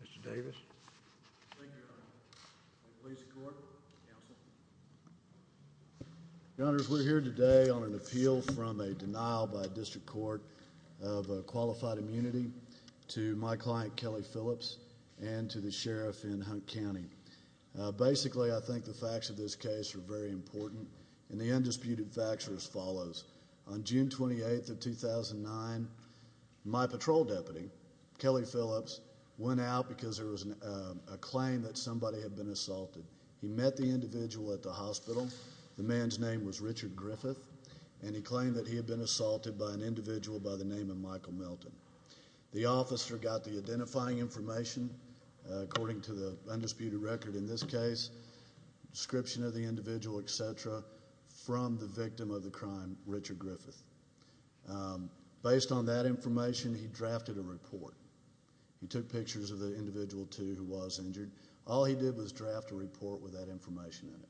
Mr. Davis? Thank you, Your Honor. Police and Court. Counsel. Your Honors, we're here today on an appeal from a denial by a district court of a qualified immunity to my client, Kelly Phillips, and to the sheriff in Hunt County. Basically, I think the facts of this case are very important, and the undisputed facts are as follows. On June 28th of 2009, my patrol deputy, Kelly Phillips, went out because there was a claim that somebody had been assaulted. He met the individual at the hospital. The man's name was Richard Griffith, and he claimed that he had been assaulted by an individual by the name of Michael Melton. The officer got the identifying information, according to the undisputed record in this case, description of the individual, etc., from the victim of the crime, Richard Griffith. Based on that information, he drafted a report. He took pictures of the individual, too, who was injured. All he did was draft a report with that information in it.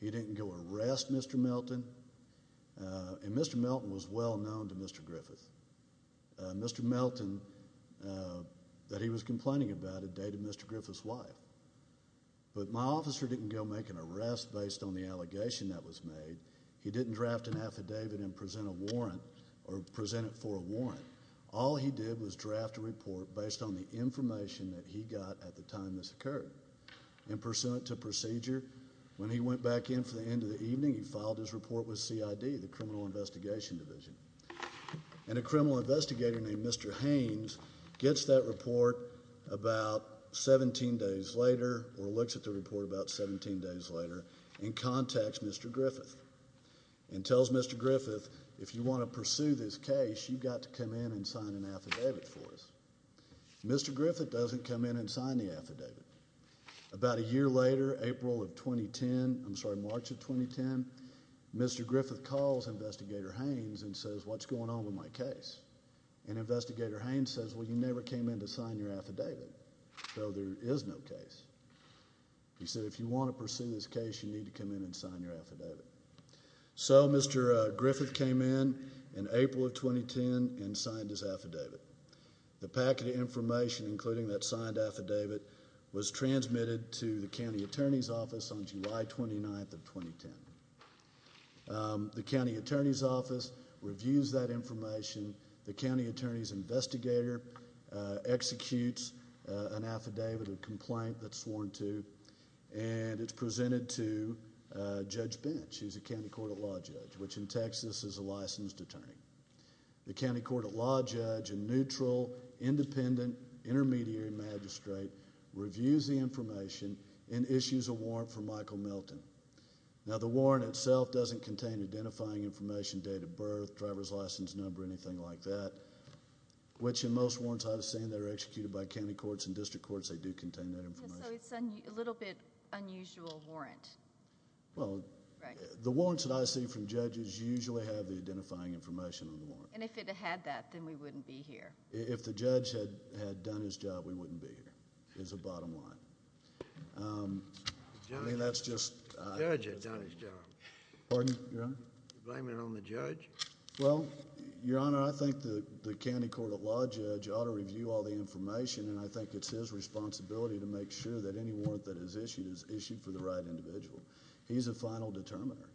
He didn't go arrest Mr. Melton, and Mr. Melton was well known to Mr. Griffith. Mr. Melton, that he was complaining about, had dated Mr. Griffith's wife. But my officer didn't go make an arrest based on the allegation that was made. He didn't draft an affidavit and present it for a warrant. All he did was draft a report based on the information that he got at the time this occurred. And pursuant to procedure, when he went back in for the end of the evening, he filed his report with CID, the Criminal Investigation Division. And a criminal investigator named Mr. Haynes gets that report about 17 days later, or looks at the report about 17 days later, and contacts Mr. Griffith and tells Mr. Griffith, if you want to pursue this case, you've got to come in and sign an affidavit for us. Mr. Griffith doesn't come in and sign the affidavit. About a year later, April of 2010, I'm sorry, March of 2010, Mr. Griffith calls Investigator Haynes and says, what's going on with my case? And Investigator Haynes says, well, you never came in to sign your affidavit, though there is no case. He said, if you want to pursue this case, you need to come in and sign your affidavit. So Mr. Griffith came in in April of 2010 and signed his affidavit. The packet of information, including that signed affidavit, was transmitted to the County Attorney's Office on July 29th of 2010. The County Attorney's Office reviews that information. The County Attorney's Investigator executes an affidavit, a complaint that's sworn to, and it's presented to Judge Bench, who's a county court of law judge, which in Texas is a licensed attorney. The county court of law judge, a neutral, independent, intermediary magistrate, reviews the information and issues a warrant for Michael Milton. Now, the warrant itself doesn't contain identifying information, date of birth, driver's license number, anything like that, which in most warrants I've seen that are executed by county courts and district courts, they do contain that information. So it's a little bit unusual warrant? Well, the warrants that I see from judges usually have the identifying information on the warrant. And if it had that, then we wouldn't be here? If the judge had done his job, we wouldn't be here, is the bottom line. The judge had done his job. Pardon me, Your Honor? Blame it on the judge? Well, Your Honor, I think the county court of law judge ought to review all the information, and I think it's his responsibility to make sure that any warrant that is issued is issued for the right individual. He's a final determiner.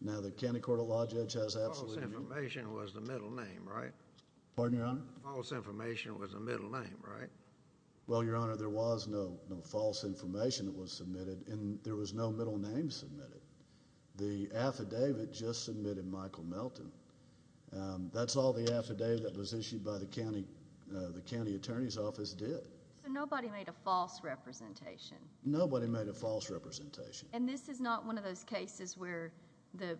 Now, the county court of law judge has absolutely... False information was the middle name, right? Pardon, Your Honor? False information was the middle name, right? Well, Your Honor, there was no false information that was submitted, and there was no middle name submitted. The affidavit just submitted Michael Melton. That's all the affidavit that was issued by the county attorney's office did. So nobody made a false representation? Nobody made a false representation. And this is not one of those cases where the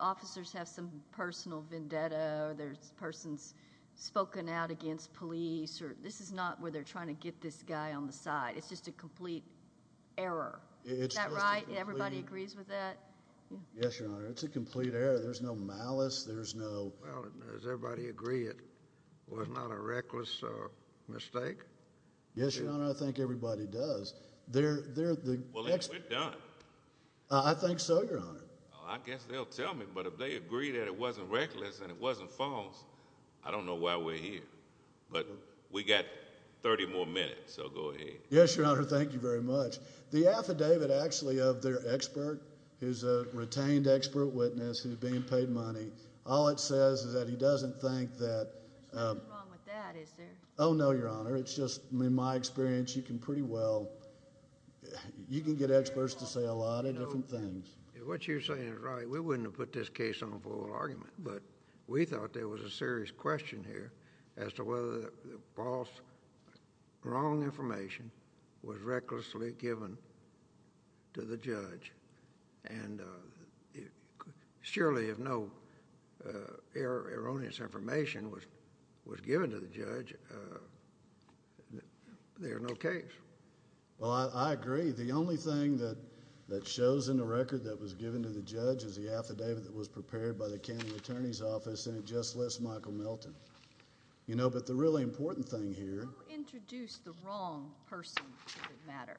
officers have some personal vendetta, or there's persons spoken out against police, or... This is not where they're trying to get this guy on the side. It's just a complete error. Is that right? Everybody agrees with that? Yes, Your Honor. It's a complete error. There's no malice. There's no... Well, does everybody agree it was not a reckless mistake? Yes, Your Honor. I think everybody does. Well, then we're done. I think so, Your Honor. Well, I guess they'll tell me, but if they agree that it wasn't reckless and it wasn't false, I don't know why we're here. But we've got 30 more minutes, so go ahead. Yes, Your Honor. Thank you very much. The affidavit, actually, of their expert, who's a retained expert witness who's being paid money, all it says is that he doesn't think that... Something's wrong with that, is there? Oh, no, Your Honor. It's just, in my experience, you can pretty well... you can get experts to say a lot of different things. What you're saying is right. We wouldn't have put this case on full argument, but we thought there was a serious question here as to whether false... to the judge, and surely if no erroneous information was given to the judge, there's no case. Well, I agree. The only thing that shows in the record that was given to the judge is the affidavit that was prepared by the county attorney's office, and it just lists Michael Milton. You know, but the really important thing here... Who introduced the wrong person, for that matter?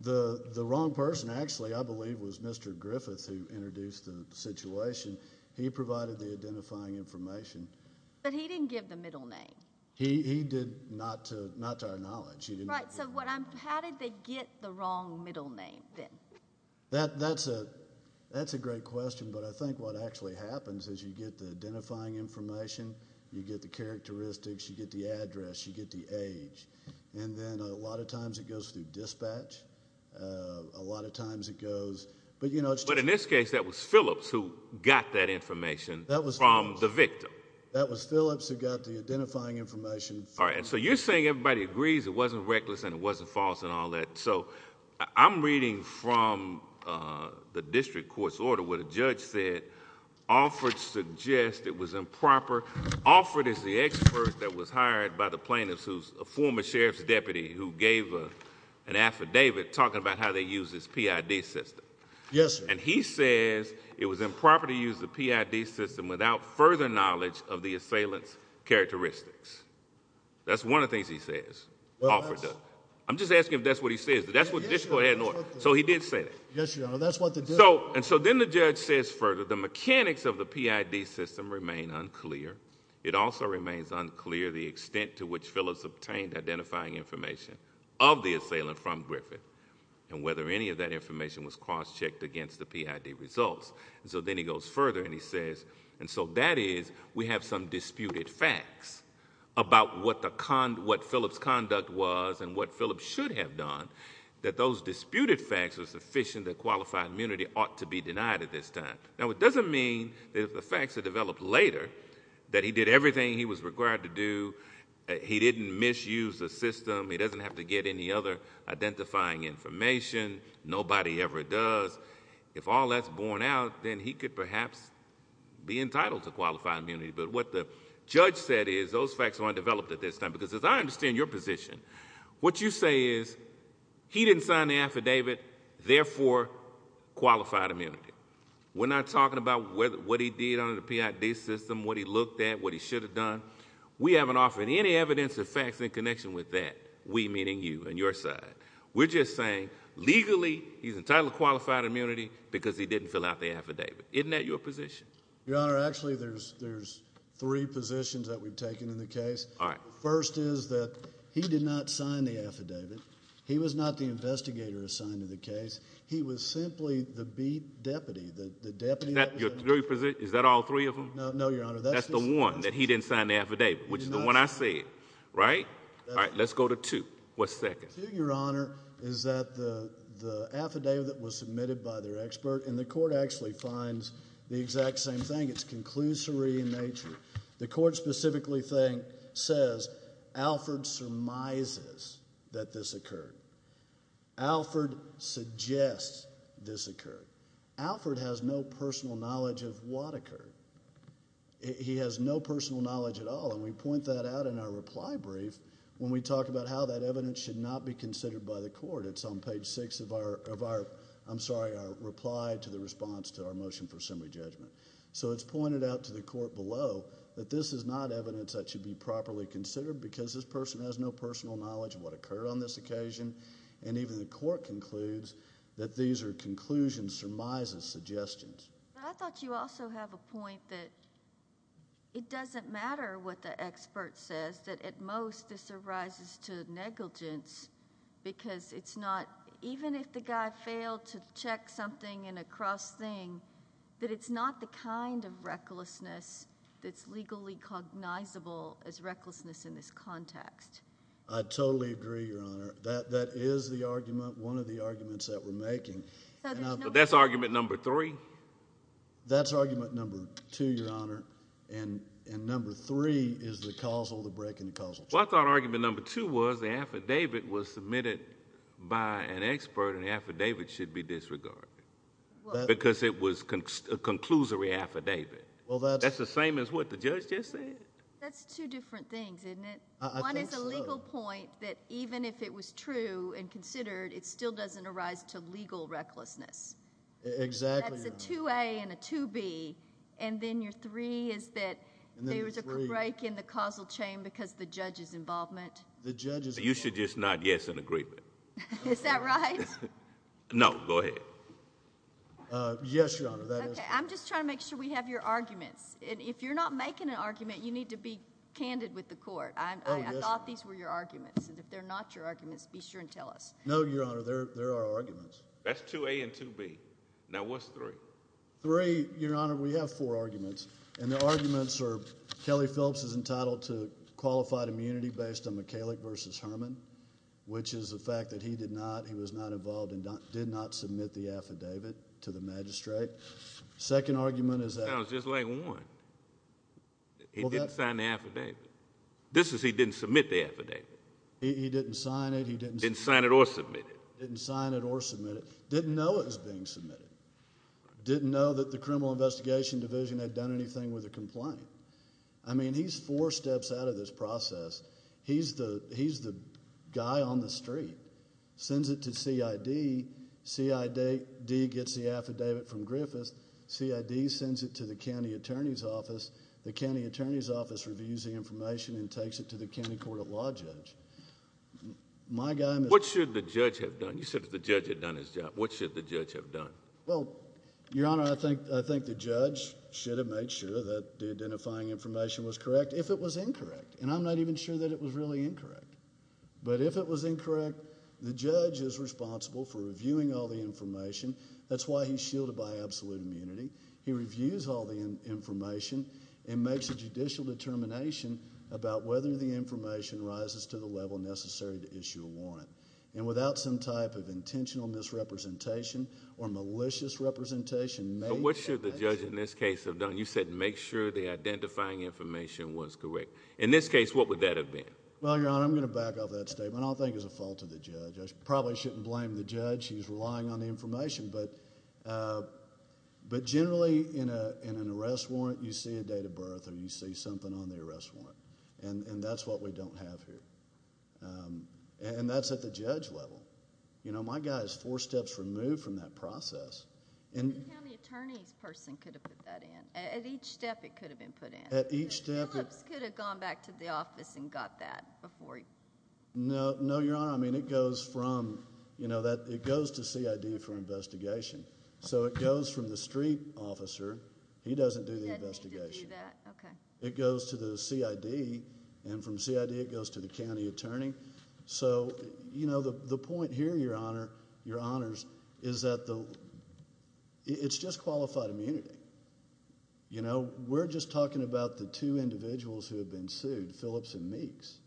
The wrong person, actually, I believe was Mr. Griffith who introduced the situation. He provided the identifying information. But, he didn't give the middle name. He did not to our knowledge. Right. So, how did they get the wrong middle name, then? That's a great question, but I think what actually happens is you get the identifying information, you get the characteristics, you get the address, you get the age, and then a lot of times it goes through dispatch. A lot of times it goes... But, in this case, that was Phillips who got that information from the victim. That was Phillips who got the identifying information from... All right. So, you're saying everybody agrees it wasn't reckless and it wasn't false and all that. So, I'm reading from the district court's order where the judge said, Alfred suggests it was improper... Alfred is the expert that was hired by the plaintiffs who's a former sheriff's deputy who gave an affidavit talking about how they used this PID system. Yes, sir. And, he says it was improper to use the PID system without further knowledge of the assailant's characteristics. That's one of the things he says. Well, that's... I'm just asking if that's what he says. That's what the district court had in order. So, he did say that. Yes, Your Honor. That's what the district... And so, then the judge says further, the mechanics of the PID system remain unclear. It also remains unclear the extent to which Phillips obtained identifying information of the assailant from Griffith and whether any of that information was cross-checked against the PID results. And so, then he goes further and he says, and so that is, we have some disputed facts about what Phillips' conduct was and what Phillips should have done, that those disputed facts are sufficient that qualified immunity ought to be denied at this time. Now, it doesn't mean that if the facts are developed later, that he did everything he was required to do, he didn't misuse the system, he doesn't have to get any other identifying information, nobody ever does. If all that's borne out, then he could perhaps be entitled to qualified immunity. But, what the judge said is, those facts aren't developed at this time. Because, as I understand your position, what you say is, he didn't sign the affidavit, therefore, qualified immunity. We're not talking about what he did under the PID system, what he looked at, what he should have done. We haven't offered any evidence or facts in connection with that, we meaning you and your side. We're just saying, legally, he's entitled to qualified immunity because he didn't fill out the affidavit. Isn't that your position? Your Honor, actually, there's three positions that we've taken in the case. First is that he did not sign the affidavit, he was not the investigator assigned to the case, he was simply the deputy. Is that all three of them? No, your Honor. That's the one, that he didn't sign the affidavit, which is the one I said, right? What's second? Second, your Honor, is that the affidavit was submitted by their expert, and the court actually finds the exact same thing. It's conclusory in nature. The court specifically says, Alford surmises that this occurred. Alford suggests this occurred. Alford has no personal knowledge of what occurred. He has no personal knowledge at all, and we point that out in our reply brief, when we talk about how that evidence should not be considered by the court. It's on page six of our, I'm sorry, our reply to the response to our motion for assembly judgment. So, it's pointed out to the court below that this is not evidence that should be properly considered because this person has no personal knowledge of what occurred on this occasion, and even the court concludes that these are conclusions, surmises, suggestions. But I thought you also have a point that it doesn't matter what the expert says, that at most this arises to negligence because it's not, even if the guy failed to check something in a cross thing, that it's not the kind of recklessness that's legally cognizable as recklessness in this context. I totally agree, your Honor. That is the argument, one of the arguments that we're making. That's argument number three? That's argument number two, your Honor, and number three is the causal, the break in the causal. Well, I thought argument number two was the affidavit was submitted by an expert, and the affidavit should be disregarded because it was a conclusory affidavit. That's the same as what the judge just said. That's two different things, isn't it? One is a legal point that even if it was true and considered, it still doesn't arise to legal recklessness. Exactly, your Honor. That's a 2A and a 2B, and then your three is that there was a break in the causal chain because of the judge's involvement. You should just not yes an agreement. Is that right? No, go ahead. Yes, your Honor, that is true. Okay, I'm just trying to make sure we have your arguments. If you're not making an argument, you need to be candid with the court. I thought these were your arguments, and if they're not your arguments, be sure and tell us. No, your Honor, they're our arguments. That's 2A and 2B. Now, what's three? Three, your Honor, we have four arguments, and the arguments are Kelly Phillips is entitled to qualified immunity based on McCulloch v. Herman, which is the fact that he was not involved and did not submit the affidavit to the magistrate. The second argument is that. It sounds just like one. He didn't sign the affidavit. This is he didn't submit the affidavit. He didn't sign it. He didn't sign it or submit it. Didn't sign it or submit it. Didn't know it was being submitted. Didn't know that the criminal investigation division had done anything with the complaint. I mean, he's four steps out of this process. He's the guy on the street. Sends it to CID. CID gets the affidavit from Griffith. CID sends it to the county attorney's office. The county attorney's office reviews the information and takes it to the county court of law judge. What should the judge have done? You said the judge had done his job. What should the judge have done? Well, your Honor, I think the judge should have made sure that the identifying information was correct if it was incorrect, and I'm not even sure that it was really incorrect. But if it was incorrect, the judge is responsible for reviewing all the information. That's why he's shielded by absolute immunity. He reviews all the information and makes a judicial determination about whether the information rises to the level necessary to issue a warrant. And without some type of intentional misrepresentation or malicious representation, What should the judge in this case have done? You said make sure the identifying information was correct. In this case, what would that have been? Well, your Honor, I'm going to back off that statement. I don't think it's the fault of the judge. I probably shouldn't blame the judge. He's relying on the information. But generally, in an arrest warrant, you see a date of birth or you see something on the arrest warrant, and that's what we don't have here. And that's at the judge level. My guy is four steps removed from that process. The county attorney's person could have put that in. At each step, it could have been put in. Phillips could have gone back to the office and got that before. No, your Honor. I mean, it goes from, you know, it goes to CID for investigation. So it goes from the street officer. He doesn't do the investigation. He doesn't need to do that. Okay. It goes to the CID, and from CID it goes to the county attorney. So, you know, the point here, your Honors, is that it's just qualified immunity. You know, we're just talking about the two individuals who have been sued, Phillips and Meeks.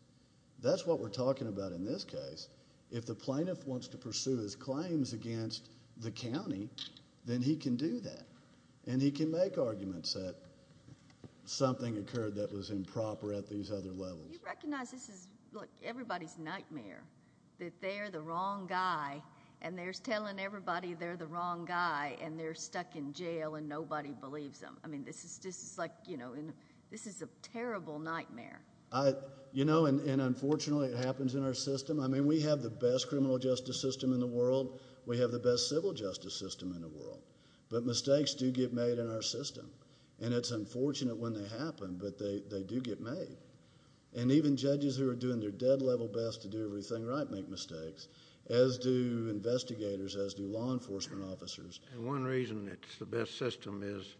That's what we're talking about in this case. If the plaintiff wants to pursue his claims against the county, then he can do that, and he can make arguments that something occurred that was improper at these other levels. You recognize this is everybody's nightmare, that they're the wrong guy, and they're telling everybody they're the wrong guy, and they're stuck in jail, and nobody believes them. I mean, this is just like, you know, this is a terrible nightmare. You know, and unfortunately it happens in our system. I mean, we have the best criminal justice system in the world. We have the best civil justice system in the world. But mistakes do get made in our system, and it's unfortunate when they happen, but they do get made. And even judges who are doing their dead level best to do everything right make mistakes, as do investigators, as do law enforcement officers. And one reason it's the best system is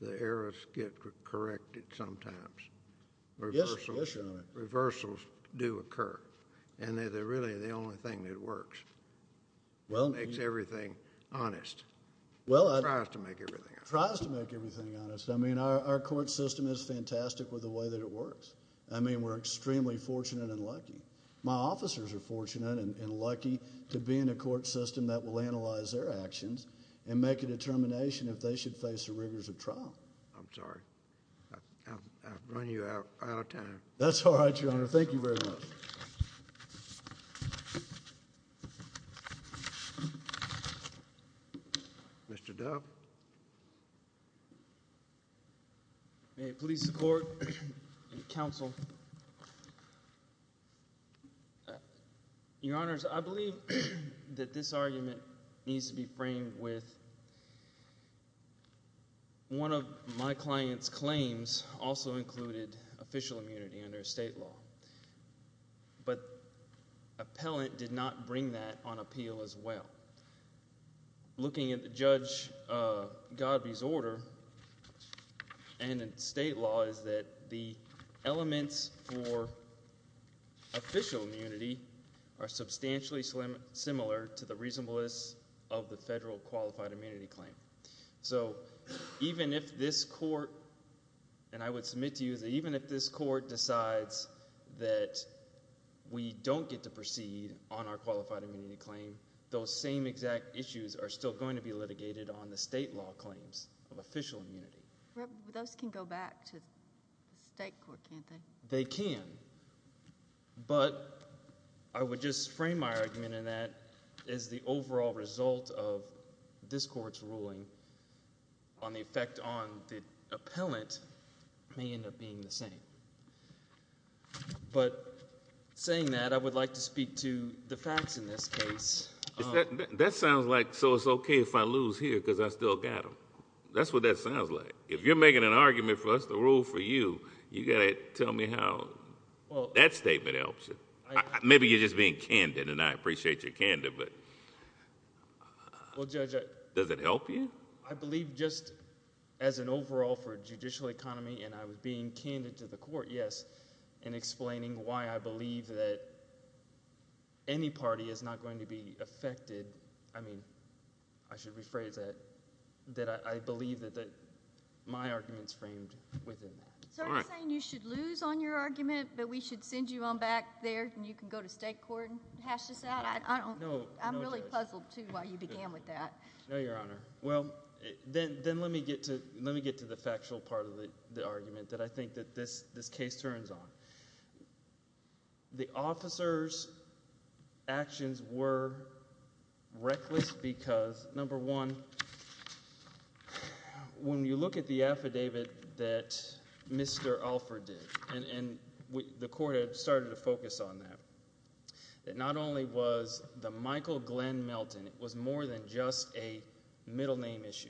the errors get corrected sometimes. Yes, Your Honor. Reversals do occur, and they're really the only thing that works. Well... Makes everything honest. Well, I... Tries to make everything honest. I mean, our court system is fantastic with the way that it works. I mean, we're extremely fortunate and lucky. My officers are fortunate and lucky to be in a court system that will analyze their actions and make a determination if they should face the rigors of trial. I'm sorry. I've run you out of time. That's all right, Your Honor. Thank you very much. Thank you. Mr. Dove. May it please the Court and counsel. Your Honors, I believe that this argument needs to be framed with... One of my client's claims also included official immunity under state law. But appellant did not bring that on appeal as well. Looking at Judge Godbee's order and in state law is that the elements for official immunity are substantially similar to the reasonableness of the federal qualified immunity claim. So, even if this court... And I would submit to you that even if this court decides that we don't get to proceed on our qualified immunity claim, those same exact issues are still going to be litigated on the state law claims of official immunity. Those can go back to the state court, can't they? They can. But, I would just frame my argument in that as the overall result of this court's ruling on the effect on the appellant may end up being the same. But, saying that, I would like to speak to the facts in this case. That sounds like, so it's okay if I lose here because I still got them. That's what that sounds like. If you're making an argument for us to rule for you, you got to tell me how that statement helps you. Maybe you're just being candid, and I appreciate your candid, but does it help you? I believe just as an overall for judicial economy, and I was being candid to the court, yes, in explaining why I believe that any party is not going to be affected. I should rephrase that. I believe that my argument is framed within that. So, you're saying you should lose on your argument, but we should send you on back there, and you can go to state court and hash this out? I'm really puzzled, too, why you began with that. No, Your Honor. Well, then let me get to the factual part of the argument that I think that this case turns on. The officer's actions were reckless because, number one, when you look at the affidavit that Mr. Alford did, and the court had started to focus on that, that not only was the Michael Glenn Melton, it was more than just a middle name issue.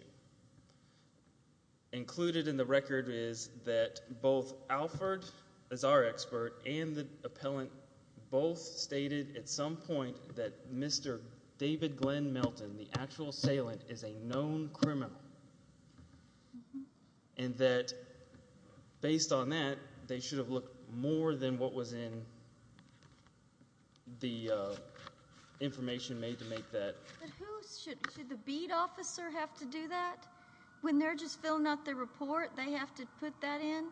Included in the record is that both Alford, as our expert, and the appellant both stated at some point that Mr. David Glenn Melton, the actual assailant, is a known criminal, and that based on that, they should have looked more than what was in the information made to make that. But who should the beat officer have to do that? When they're just filling out the report, they have to put that in?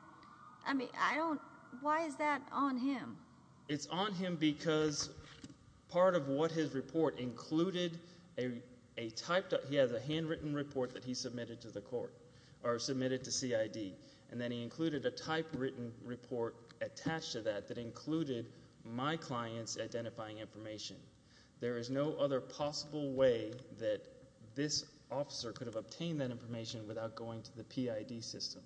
I mean, I don't—why is that on him? It's on him because part of what his report included, a typed—he has a handwritten report that he submitted to the court, or submitted to CID, and then he included a typewritten report attached to that that included my client's identifying information. There is no other possible way that this officer could have obtained that information without going to the PID system,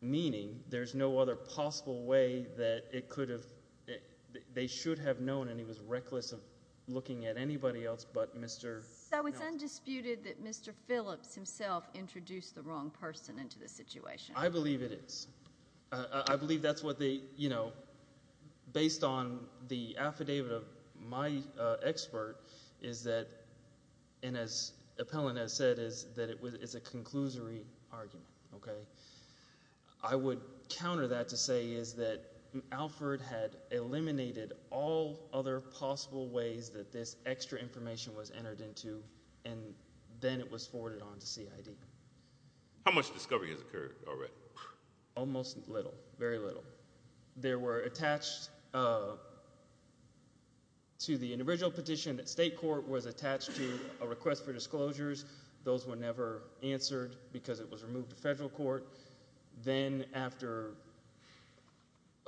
meaning there's no other possible way that it could have—they should have known, and he was reckless of looking at anybody else but Mr. Melton. So it's undisputed that Mr. Phillips himself introduced the wrong person into the situation. I believe it is. I believe that's what they—based on the affidavit of my expert is that, and as Appellant has said, is that it's a conclusory argument. I would counter that to say is that Alford had eliminated all other possible ways that this extra information was entered into, and then it was forwarded on to CID. How much discovery has occurred already? Almost little, very little. There were attached to the original petition that state court was attached to a request for disclosures. Those were never answered because it was removed to federal court. Then after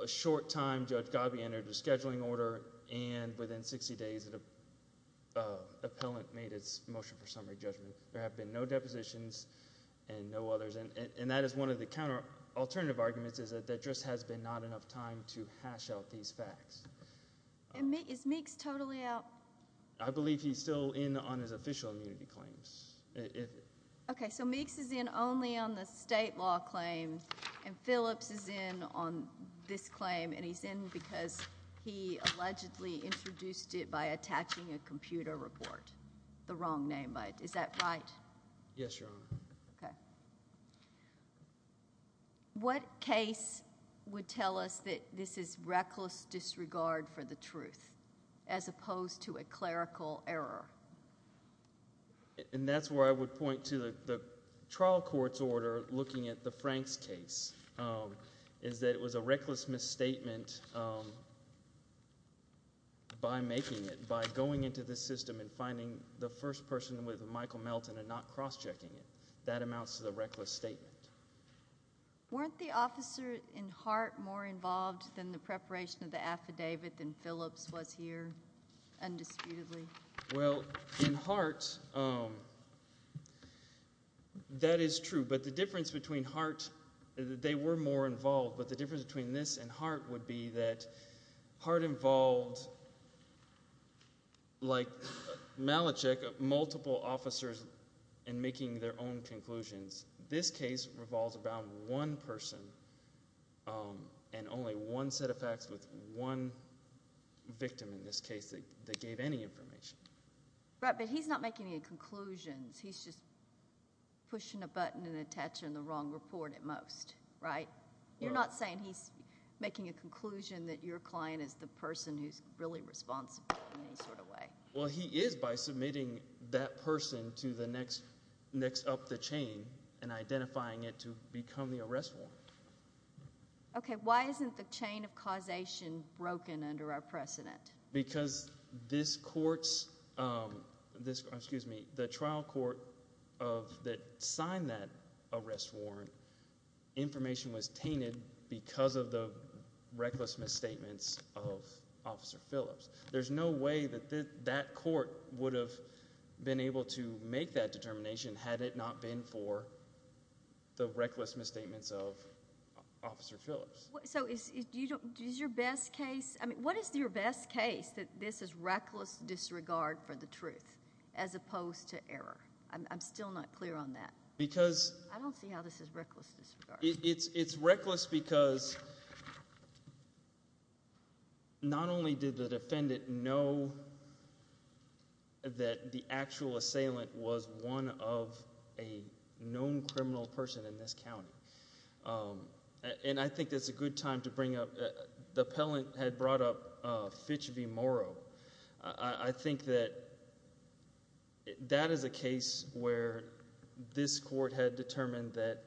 a short time, Judge Gobby entered a scheduling order, and within 60 days the appellant made its motion for summary judgment. There have been no depositions and no others, and that is one of the counter-alternative arguments is that there just has been not enough time to hash out these facts. Is Meeks totally out? I believe he's still in on his official immunity claims. Okay, so Meeks is in only on the state law claim, and Phillips is in on this claim, and he's in because he allegedly introduced it by attaching a computer report, the wrong name. But is that right? Yes, Your Honor. Okay. What case would tell us that this is reckless disregard for the truth as opposed to a clerical error? And that's where I would point to the trial court's order looking at the Franks case, is that it was a reckless misstatement by making it, by going into the system and finding the first person with Michael Melton and not cross-checking it. That amounts to the reckless statement. Weren't the officers in Hart more involved in the preparation of the affidavit than Phillips was here, undisputedly? Well, in Hart, that is true, but the difference between Hart, they were more involved, but the difference between this and Hart would be that Hart involved, like Malachick, multiple officers in making their own conclusions. This case revolves around one person and only one set of facts with one victim in this case that gave any information. But he's not making any conclusions. He's just pushing a button and attaching the wrong report at most, right? You're not saying he's making a conclusion that your client is the person who's really responsible in any sort of way? Well, he is by submitting that person to the next up the chain and identifying it to become the arrest warrant. Okay. Why isn't the chain of causation broken under our precedent? Because this court's – excuse me, the trial court that signed that arrest warrant, information was tainted because of the reckless misstatements of Officer Phillips. There's no way that that court would have been able to make that determination had it not been for the reckless misstatements of Officer Phillips. So is your best case – I mean, what is your best case that this is reckless disregard for the truth as opposed to error? I'm still not clear on that. Because – I don't see how this is reckless disregard. It's reckless because not only did the defendant know that the actual assailant was one of a known criminal person in this county, and I think that's a good time to bring up – the appellant had brought up Fitch v. Morrow. I think that that is a case where this court had determined that,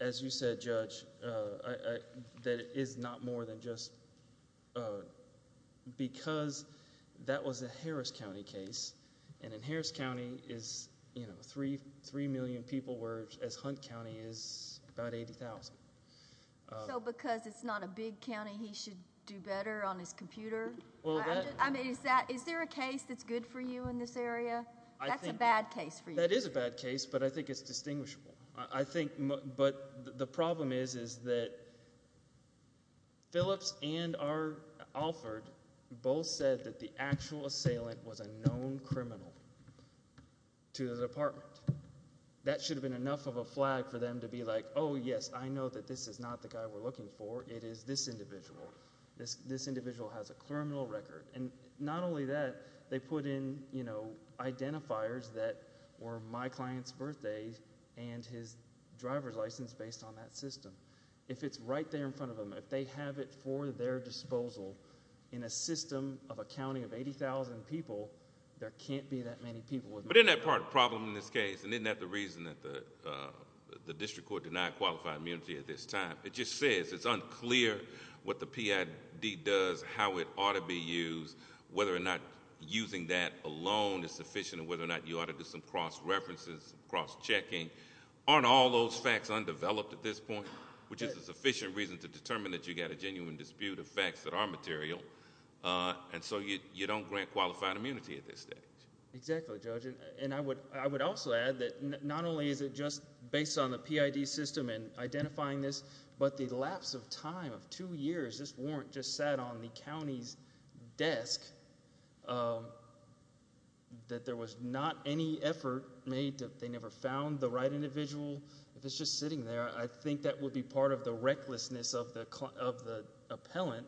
as you said, Judge, that it is not more than just because that was a Harris County case. And in Harris County is 3 million people, whereas Hunt County is about 80,000. So because it's not a big county, he should do better on his computer? Is there a case that's good for you in this area? That's a bad case for you. That is a bad case, but I think it's distinguishable. But the problem is that Phillips and Alford both said that the actual assailant was a known criminal to the department. That should have been enough of a flag for them to be like, oh, yes, I know that this is not the guy we're looking for. It is this individual. This individual has a criminal record. And not only that, they put in, you know, identifiers that were my client's birthday and his driver's license based on that system. If it's right there in front of them, if they have it for their disposal in a system of a county of 80,000 people, there can't be that many people. But isn't that part of the problem in this case, and isn't that the reason that the district court denied qualified immunity at this time? It just says it's unclear what the PID does, how it ought to be used, whether or not using that alone is sufficient, and whether or not you ought to do some cross-references, cross-checking. Aren't all those facts undeveloped at this point, which is a sufficient reason to determine that you've got a genuine dispute of facts that are material? And so you don't grant qualified immunity at this stage. Exactly, Judge. And I would also add that not only is it just based on the PID system and identifying this, but the lapse of time of two years this warrant just sat on the county's desk that there was not any effort made. They never found the right individual. If it's just sitting there, I think that would be part of the recklessness of the appellant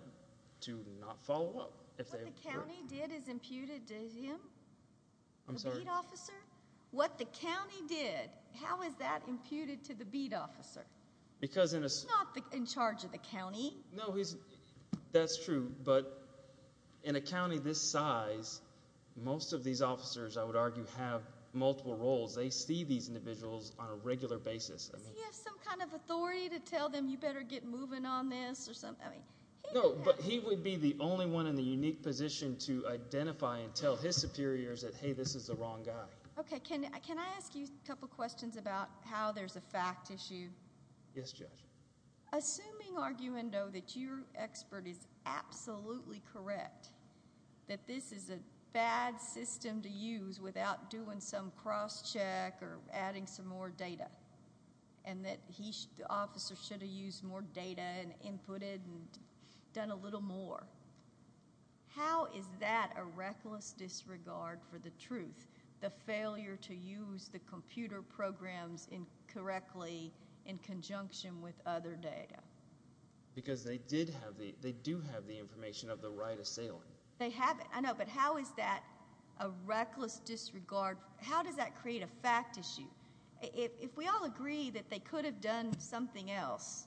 to not follow up. What the county did is imputed to him? I'm sorry? The beat officer? What the county did, how is that imputed to the beat officer? Because in a – He's not in charge of the county. No, he's – that's true, but in a county this size, most of these officers, I would argue, have multiple roles. They see these individuals on a regular basis. Does he have some kind of authority to tell them you better get moving on this or something? No, but he would be the only one in the unique position to identify and tell his superiors that, hey, this is the wrong guy. Okay. Can I ask you a couple questions about how there's a fact issue? Yes, Judge. Assuming, arguendo, that your expert is absolutely correct that this is a bad system to use without doing some cross-check or adding some more data and that the officer should have used more data and inputted and done a little more, how is that a reckless disregard for the truth, the failure to use the computer programs correctly in conjunction with other data? Because they do have the information of the right assailant. They have it. I know, but how is that a reckless disregard? How does that create a fact issue? If we all agree that they could have done something else,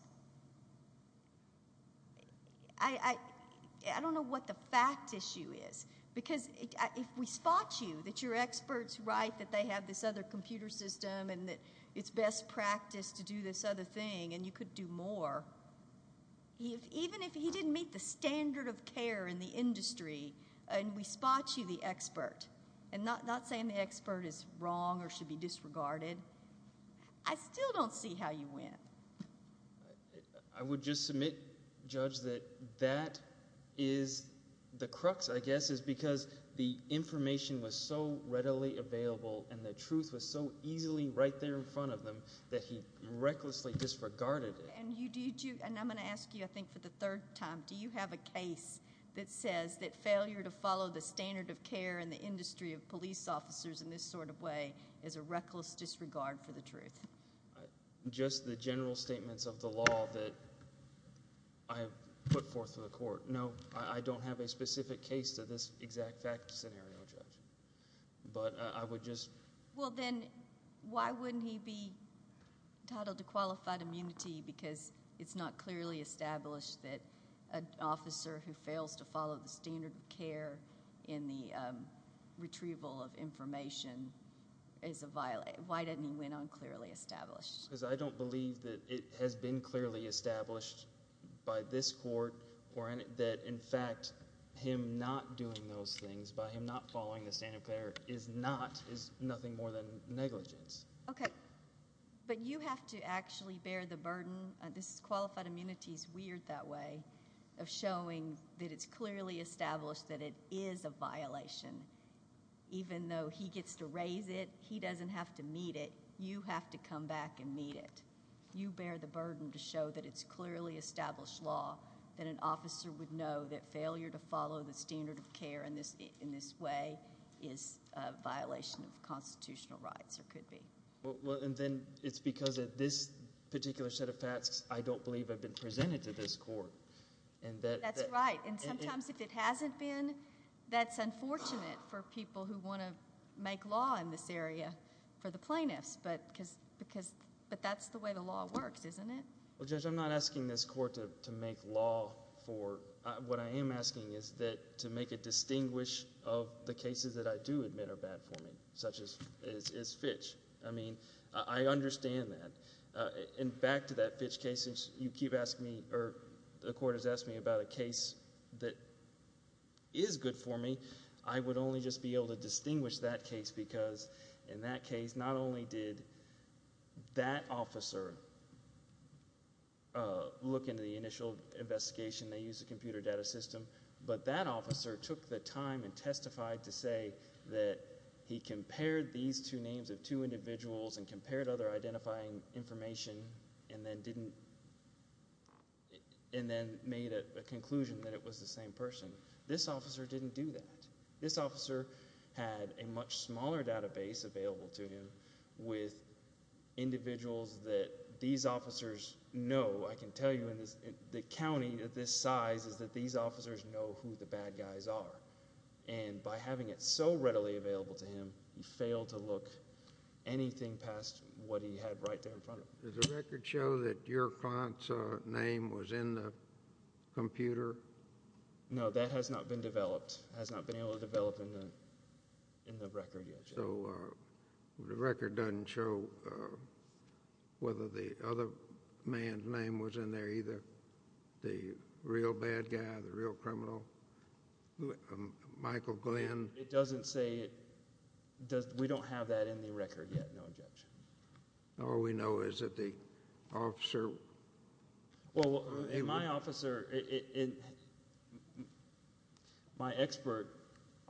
I don't know what the fact issue is. Because if we spot you, that your expert's right that they have this other computer system and that it's best practice to do this other thing and you could do more, even if he didn't meet the standard of care in the industry and we spot you the expert and not saying the expert is wrong or should be disregarded, I still don't see how you win. I would just submit, Judge, that that is the crux, I guess, is because the information was so readily available and the truth was so easily right there in front of them that he recklessly disregarded it. And I'm going to ask you, I think, for the third time, do you have a case that says that failure to follow the standard of care in the industry of police officers in this sort of way is a reckless disregard for the truth? Just the general statements of the law that I have put forth to the court. No, I don't have a specific case to this exact fact scenario, Judge. But I would just... Well, then, why wouldn't he be entitled to qualified immunity because it's not clearly established that an officer who fails to follow the standard of care in the retrieval of information is a violent? Why didn't he win on clearly established? Because I don't believe that it has been clearly established by this court that, in fact, him not doing those things, by him not following the standard of care, is nothing more than negligence. Okay. But you have to actually bear the burden. This qualified immunity is weird that way, of showing that it's clearly established that it is a violation. Even though he gets to raise it, he doesn't have to meet it. You have to come back and meet it. You bear the burden to show that it's clearly established law, that an officer would know that failure to follow the standard of care in this way is a violation of constitutional rights or could be. And then it's because of this particular set of facts, I don't believe have been presented to this court. That's right. And sometimes if it hasn't been, that's unfortunate for people who want to make law in this area for the plaintiffs. But that's the way the law works, isn't it? Well, Judge, I'm not asking this court to make law for... What I am asking is to make a distinguish of the cases that I do admit are bad for me, such as Fitch. I understand that. And back to that Fitch case, you keep asking me or the court has asked me about a case that is good for me. I would only just be able to distinguish that case because in that case not only did that officer look into the initial investigation, they used a computer data system, but that officer took the time and testified to say that he compared these two names of two individuals and compared other identifying information and then made a conclusion that it was the same person. This officer didn't do that. And this officer had a much smaller database available to him with individuals that these officers know. I can tell you in the county at this size is that these officers know who the bad guys are. And by having it so readily available to him, he failed to look anything past what he had right there in front of him. Does the record show that your client's name was in the computer? No, that has not been developed. It has not been able to develop in the record yet. So the record doesn't show whether the other man's name was in there either, the real bad guy, the real criminal, Michael Glenn? It doesn't say. We don't have that in the record yet, no, Judge. All we know is that the officer— Well, my officer, my expert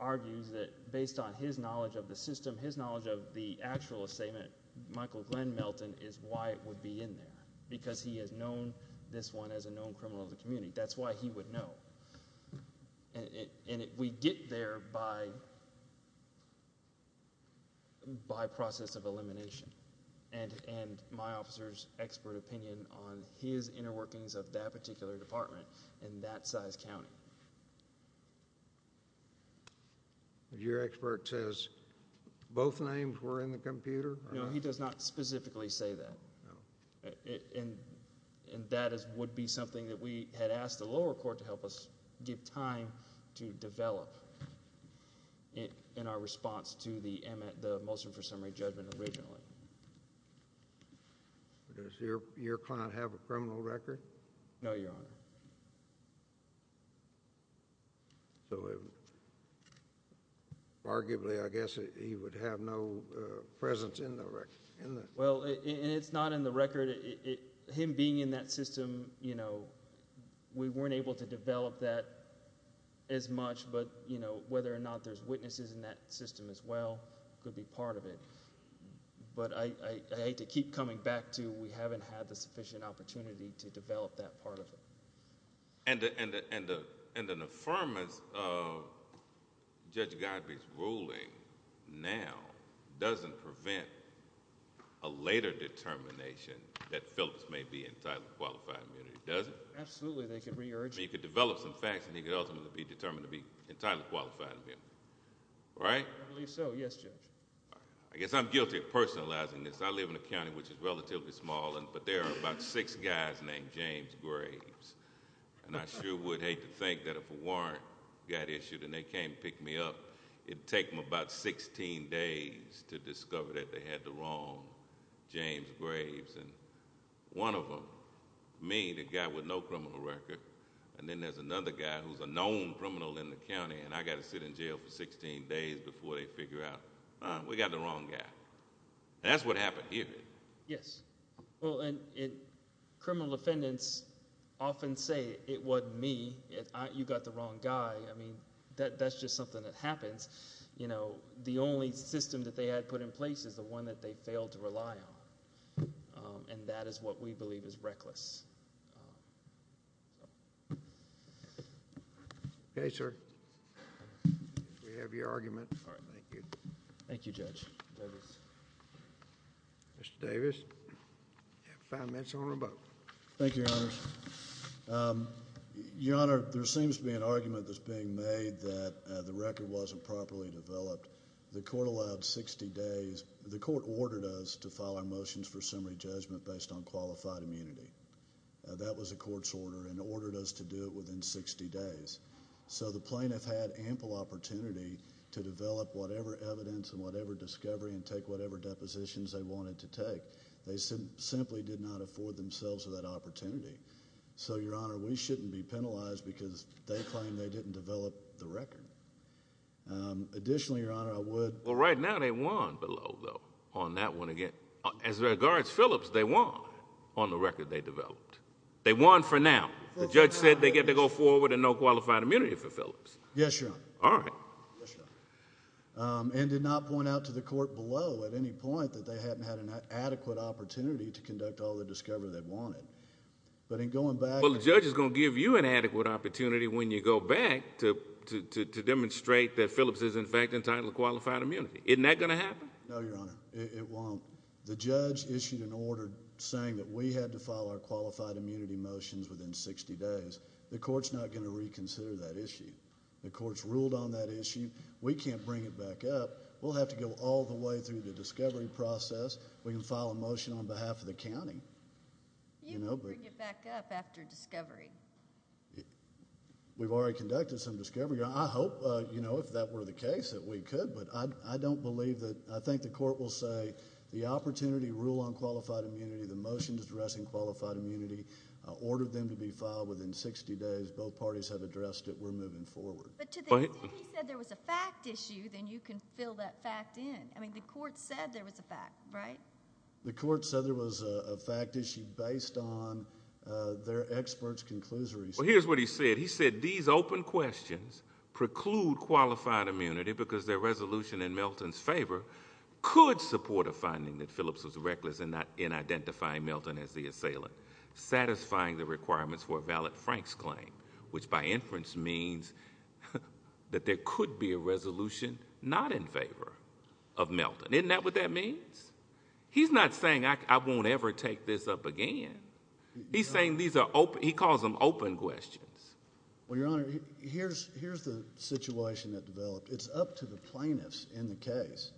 argues that based on his knowledge of the system, his knowledge of the actual assailant, Michael Glenn Melton, is why it would be in there because he has known this one as a known criminal in the community. That's why he would know. And we get there by process of elimination. And my officer's expert opinion on his inner workings of that particular department in that size county. Your expert says both names were in the computer? No, he does not specifically say that. And that would be something that we had asked the lower court to help us give time to develop in our response to the motion for summary judgment originally. Does your client have a criminal record? No, Your Honor. So arguably, I guess he would have no presence in the record. Well, and it's not in the record. Him being in that system, we weren't able to develop that as much. But whether or not there's witnesses in that system as well could be part of it. But I hate to keep coming back to we haven't had the sufficient opportunity to develop that part of it. And an affirmance of Judge Godby's ruling now doesn't prevent a later determination that Phillips may be entitled to qualified immunity, does it? Absolutely, they could re-urge it. I mean, you could develop some facts and he could ultimately be determined to be entitled to qualified immunity. Right? I believe so. Yes, Judge. I guess I'm guilty of personalizing this. I live in a county which is relatively small, but there are about six guys named James Graves. And I sure would hate to think that if a warrant got issued and they came to pick me up, it would take them about 16 days to discover that they had the wrong James Graves. One of them, me, the guy with no criminal record. And then there's another guy who's a known criminal in the county, and I've got to sit in jail for 16 days before they figure out, all right, we've got the wrong guy. And that's what happened here. Yes. Well, and criminal defendants often say, it wasn't me. You got the wrong guy. I mean, that's just something that happens. The only system that they had put in place is the one that they failed to rely on, and that is what we believe is reckless. Okay, sir. We have your argument. Thank you. Thank you, Judge. Mr. Davis, you have five minutes on the vote. Thank you, Your Honor. Your Honor, there seems to be an argument that's being made that the record wasn't properly developed. The court allowed 60 days. The court ordered us to file our motions for summary judgment based on qualified immunity. That was the court's order and ordered us to do it within 60 days. So the plaintiff had ample opportunity to develop whatever evidence and whatever discovery and take whatever depositions they wanted to take. They simply did not afford themselves that opportunity. So, Your Honor, we shouldn't be penalized because they claim they didn't develop the record. Additionally, Your Honor, I would— Well, right now they won below, though, on that one again. As regards Phillips, they won on the record they developed. They won for now. The judge said they get to go forward and no qualified immunity for Phillips. Yes, Your Honor. All right. And did not point out to the court below at any point that they hadn't had an adequate opportunity to conduct all the discovery they wanted. But in going back— Well, the judge is going to give you an adequate opportunity when you go back to demonstrate that Phillips is, in fact, entitled to qualified immunity. Isn't that going to happen? No, Your Honor, it won't. The judge issued an order saying that we had to file our qualified immunity motions within 60 days. The court's not going to reconsider that issue. The court's ruled on that issue. We can't bring it back up. We'll have to go all the way through the discovery process. We can file a motion on behalf of the county. You will bring it back up after discovery. We've already conducted some discovery. I hope, you know, if that were the case that we could, but I don't believe that— I think the court will say the opportunity rule on qualified immunity, the motion addressing qualified immunity, I ordered them to be filed within 60 days. Both parties have addressed it. We're moving forward. But to the extent he said there was a fact issue, then you can fill that fact in. I mean, the court said there was a fact, right? The court said there was a fact issue based on their expert's conclusory statement. Well, here's what he said. He said these open questions preclude qualified immunity because their resolution in Milton's favor could support a finding that Phillips was reckless in identifying Milton as the assailant, satisfying the requirements for a valid Frank's claim, which by inference means that there could be a resolution not in favor of Milton. Isn't that what that means? He's not saying I won't ever take this up again. He's saying these are open—he calls them open questions. Well, Your Honor, here's the situation that developed. It's up to the plaintiffs in the case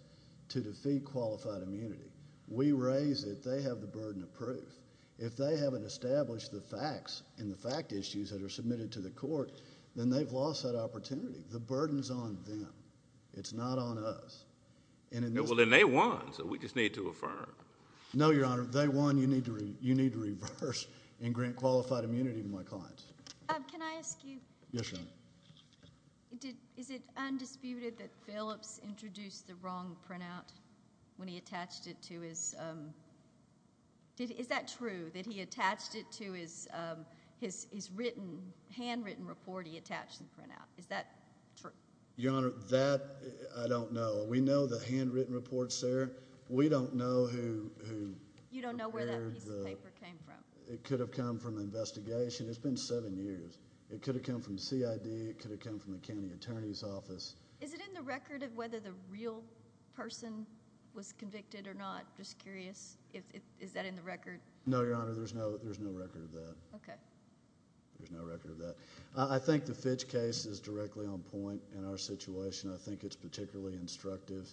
to defeat qualified immunity. We raise it. They have the burden of proof. If they haven't established the facts and the fact issues that are submitted to the court, then they've lost that opportunity. The burden's on them. It's not on us. Well, then they won, so we just need to affirm. No, Your Honor. They won. You need to reverse and grant qualified immunity to my clients. Can I ask you— Yes, Your Honor. Is it undisputed that Phillips introduced the wrong printout when he attached it to his— is that true that he attached it to his handwritten report he attached the printout? Is that true? Your Honor, that I don't know. We know the handwritten report, sir. We don't know who— You don't know where that piece of paper came from? It could have come from investigation. It's been seven years. It could have come from CID. It could have come from the county attorney's office. Is it in the record of whether the real person was convicted or not? I'm just curious. Is that in the record? No, Your Honor. There's no record of that. Okay. There's no record of that. I think the Fitch case is directly on point in our situation. I think it's particularly instructive.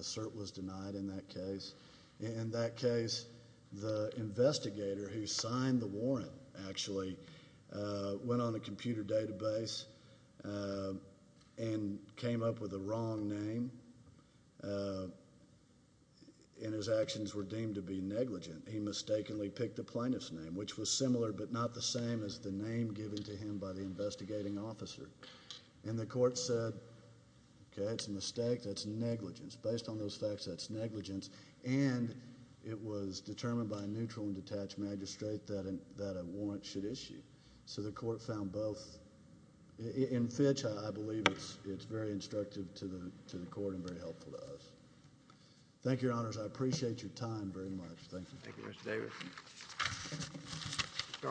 Cert was denied in that case. In that case, the investigator who signed the warrant actually went on a computer database and came up with the wrong name, and his actions were deemed to be negligent. He mistakenly picked the plaintiff's name, which was similar but not the same as the name given to him by the investigating officer. And the court said, okay, it's a mistake. That's negligence. Based on those facts, that's negligence. And it was determined by a neutral and detached magistrate that a warrant should issue. So the court found both. In Fitch, I believe it's very instructive to the court and very helpful to us. Thank you, Your Honors. I appreciate your time very much. Thank you. Thank you, Mr. Davis.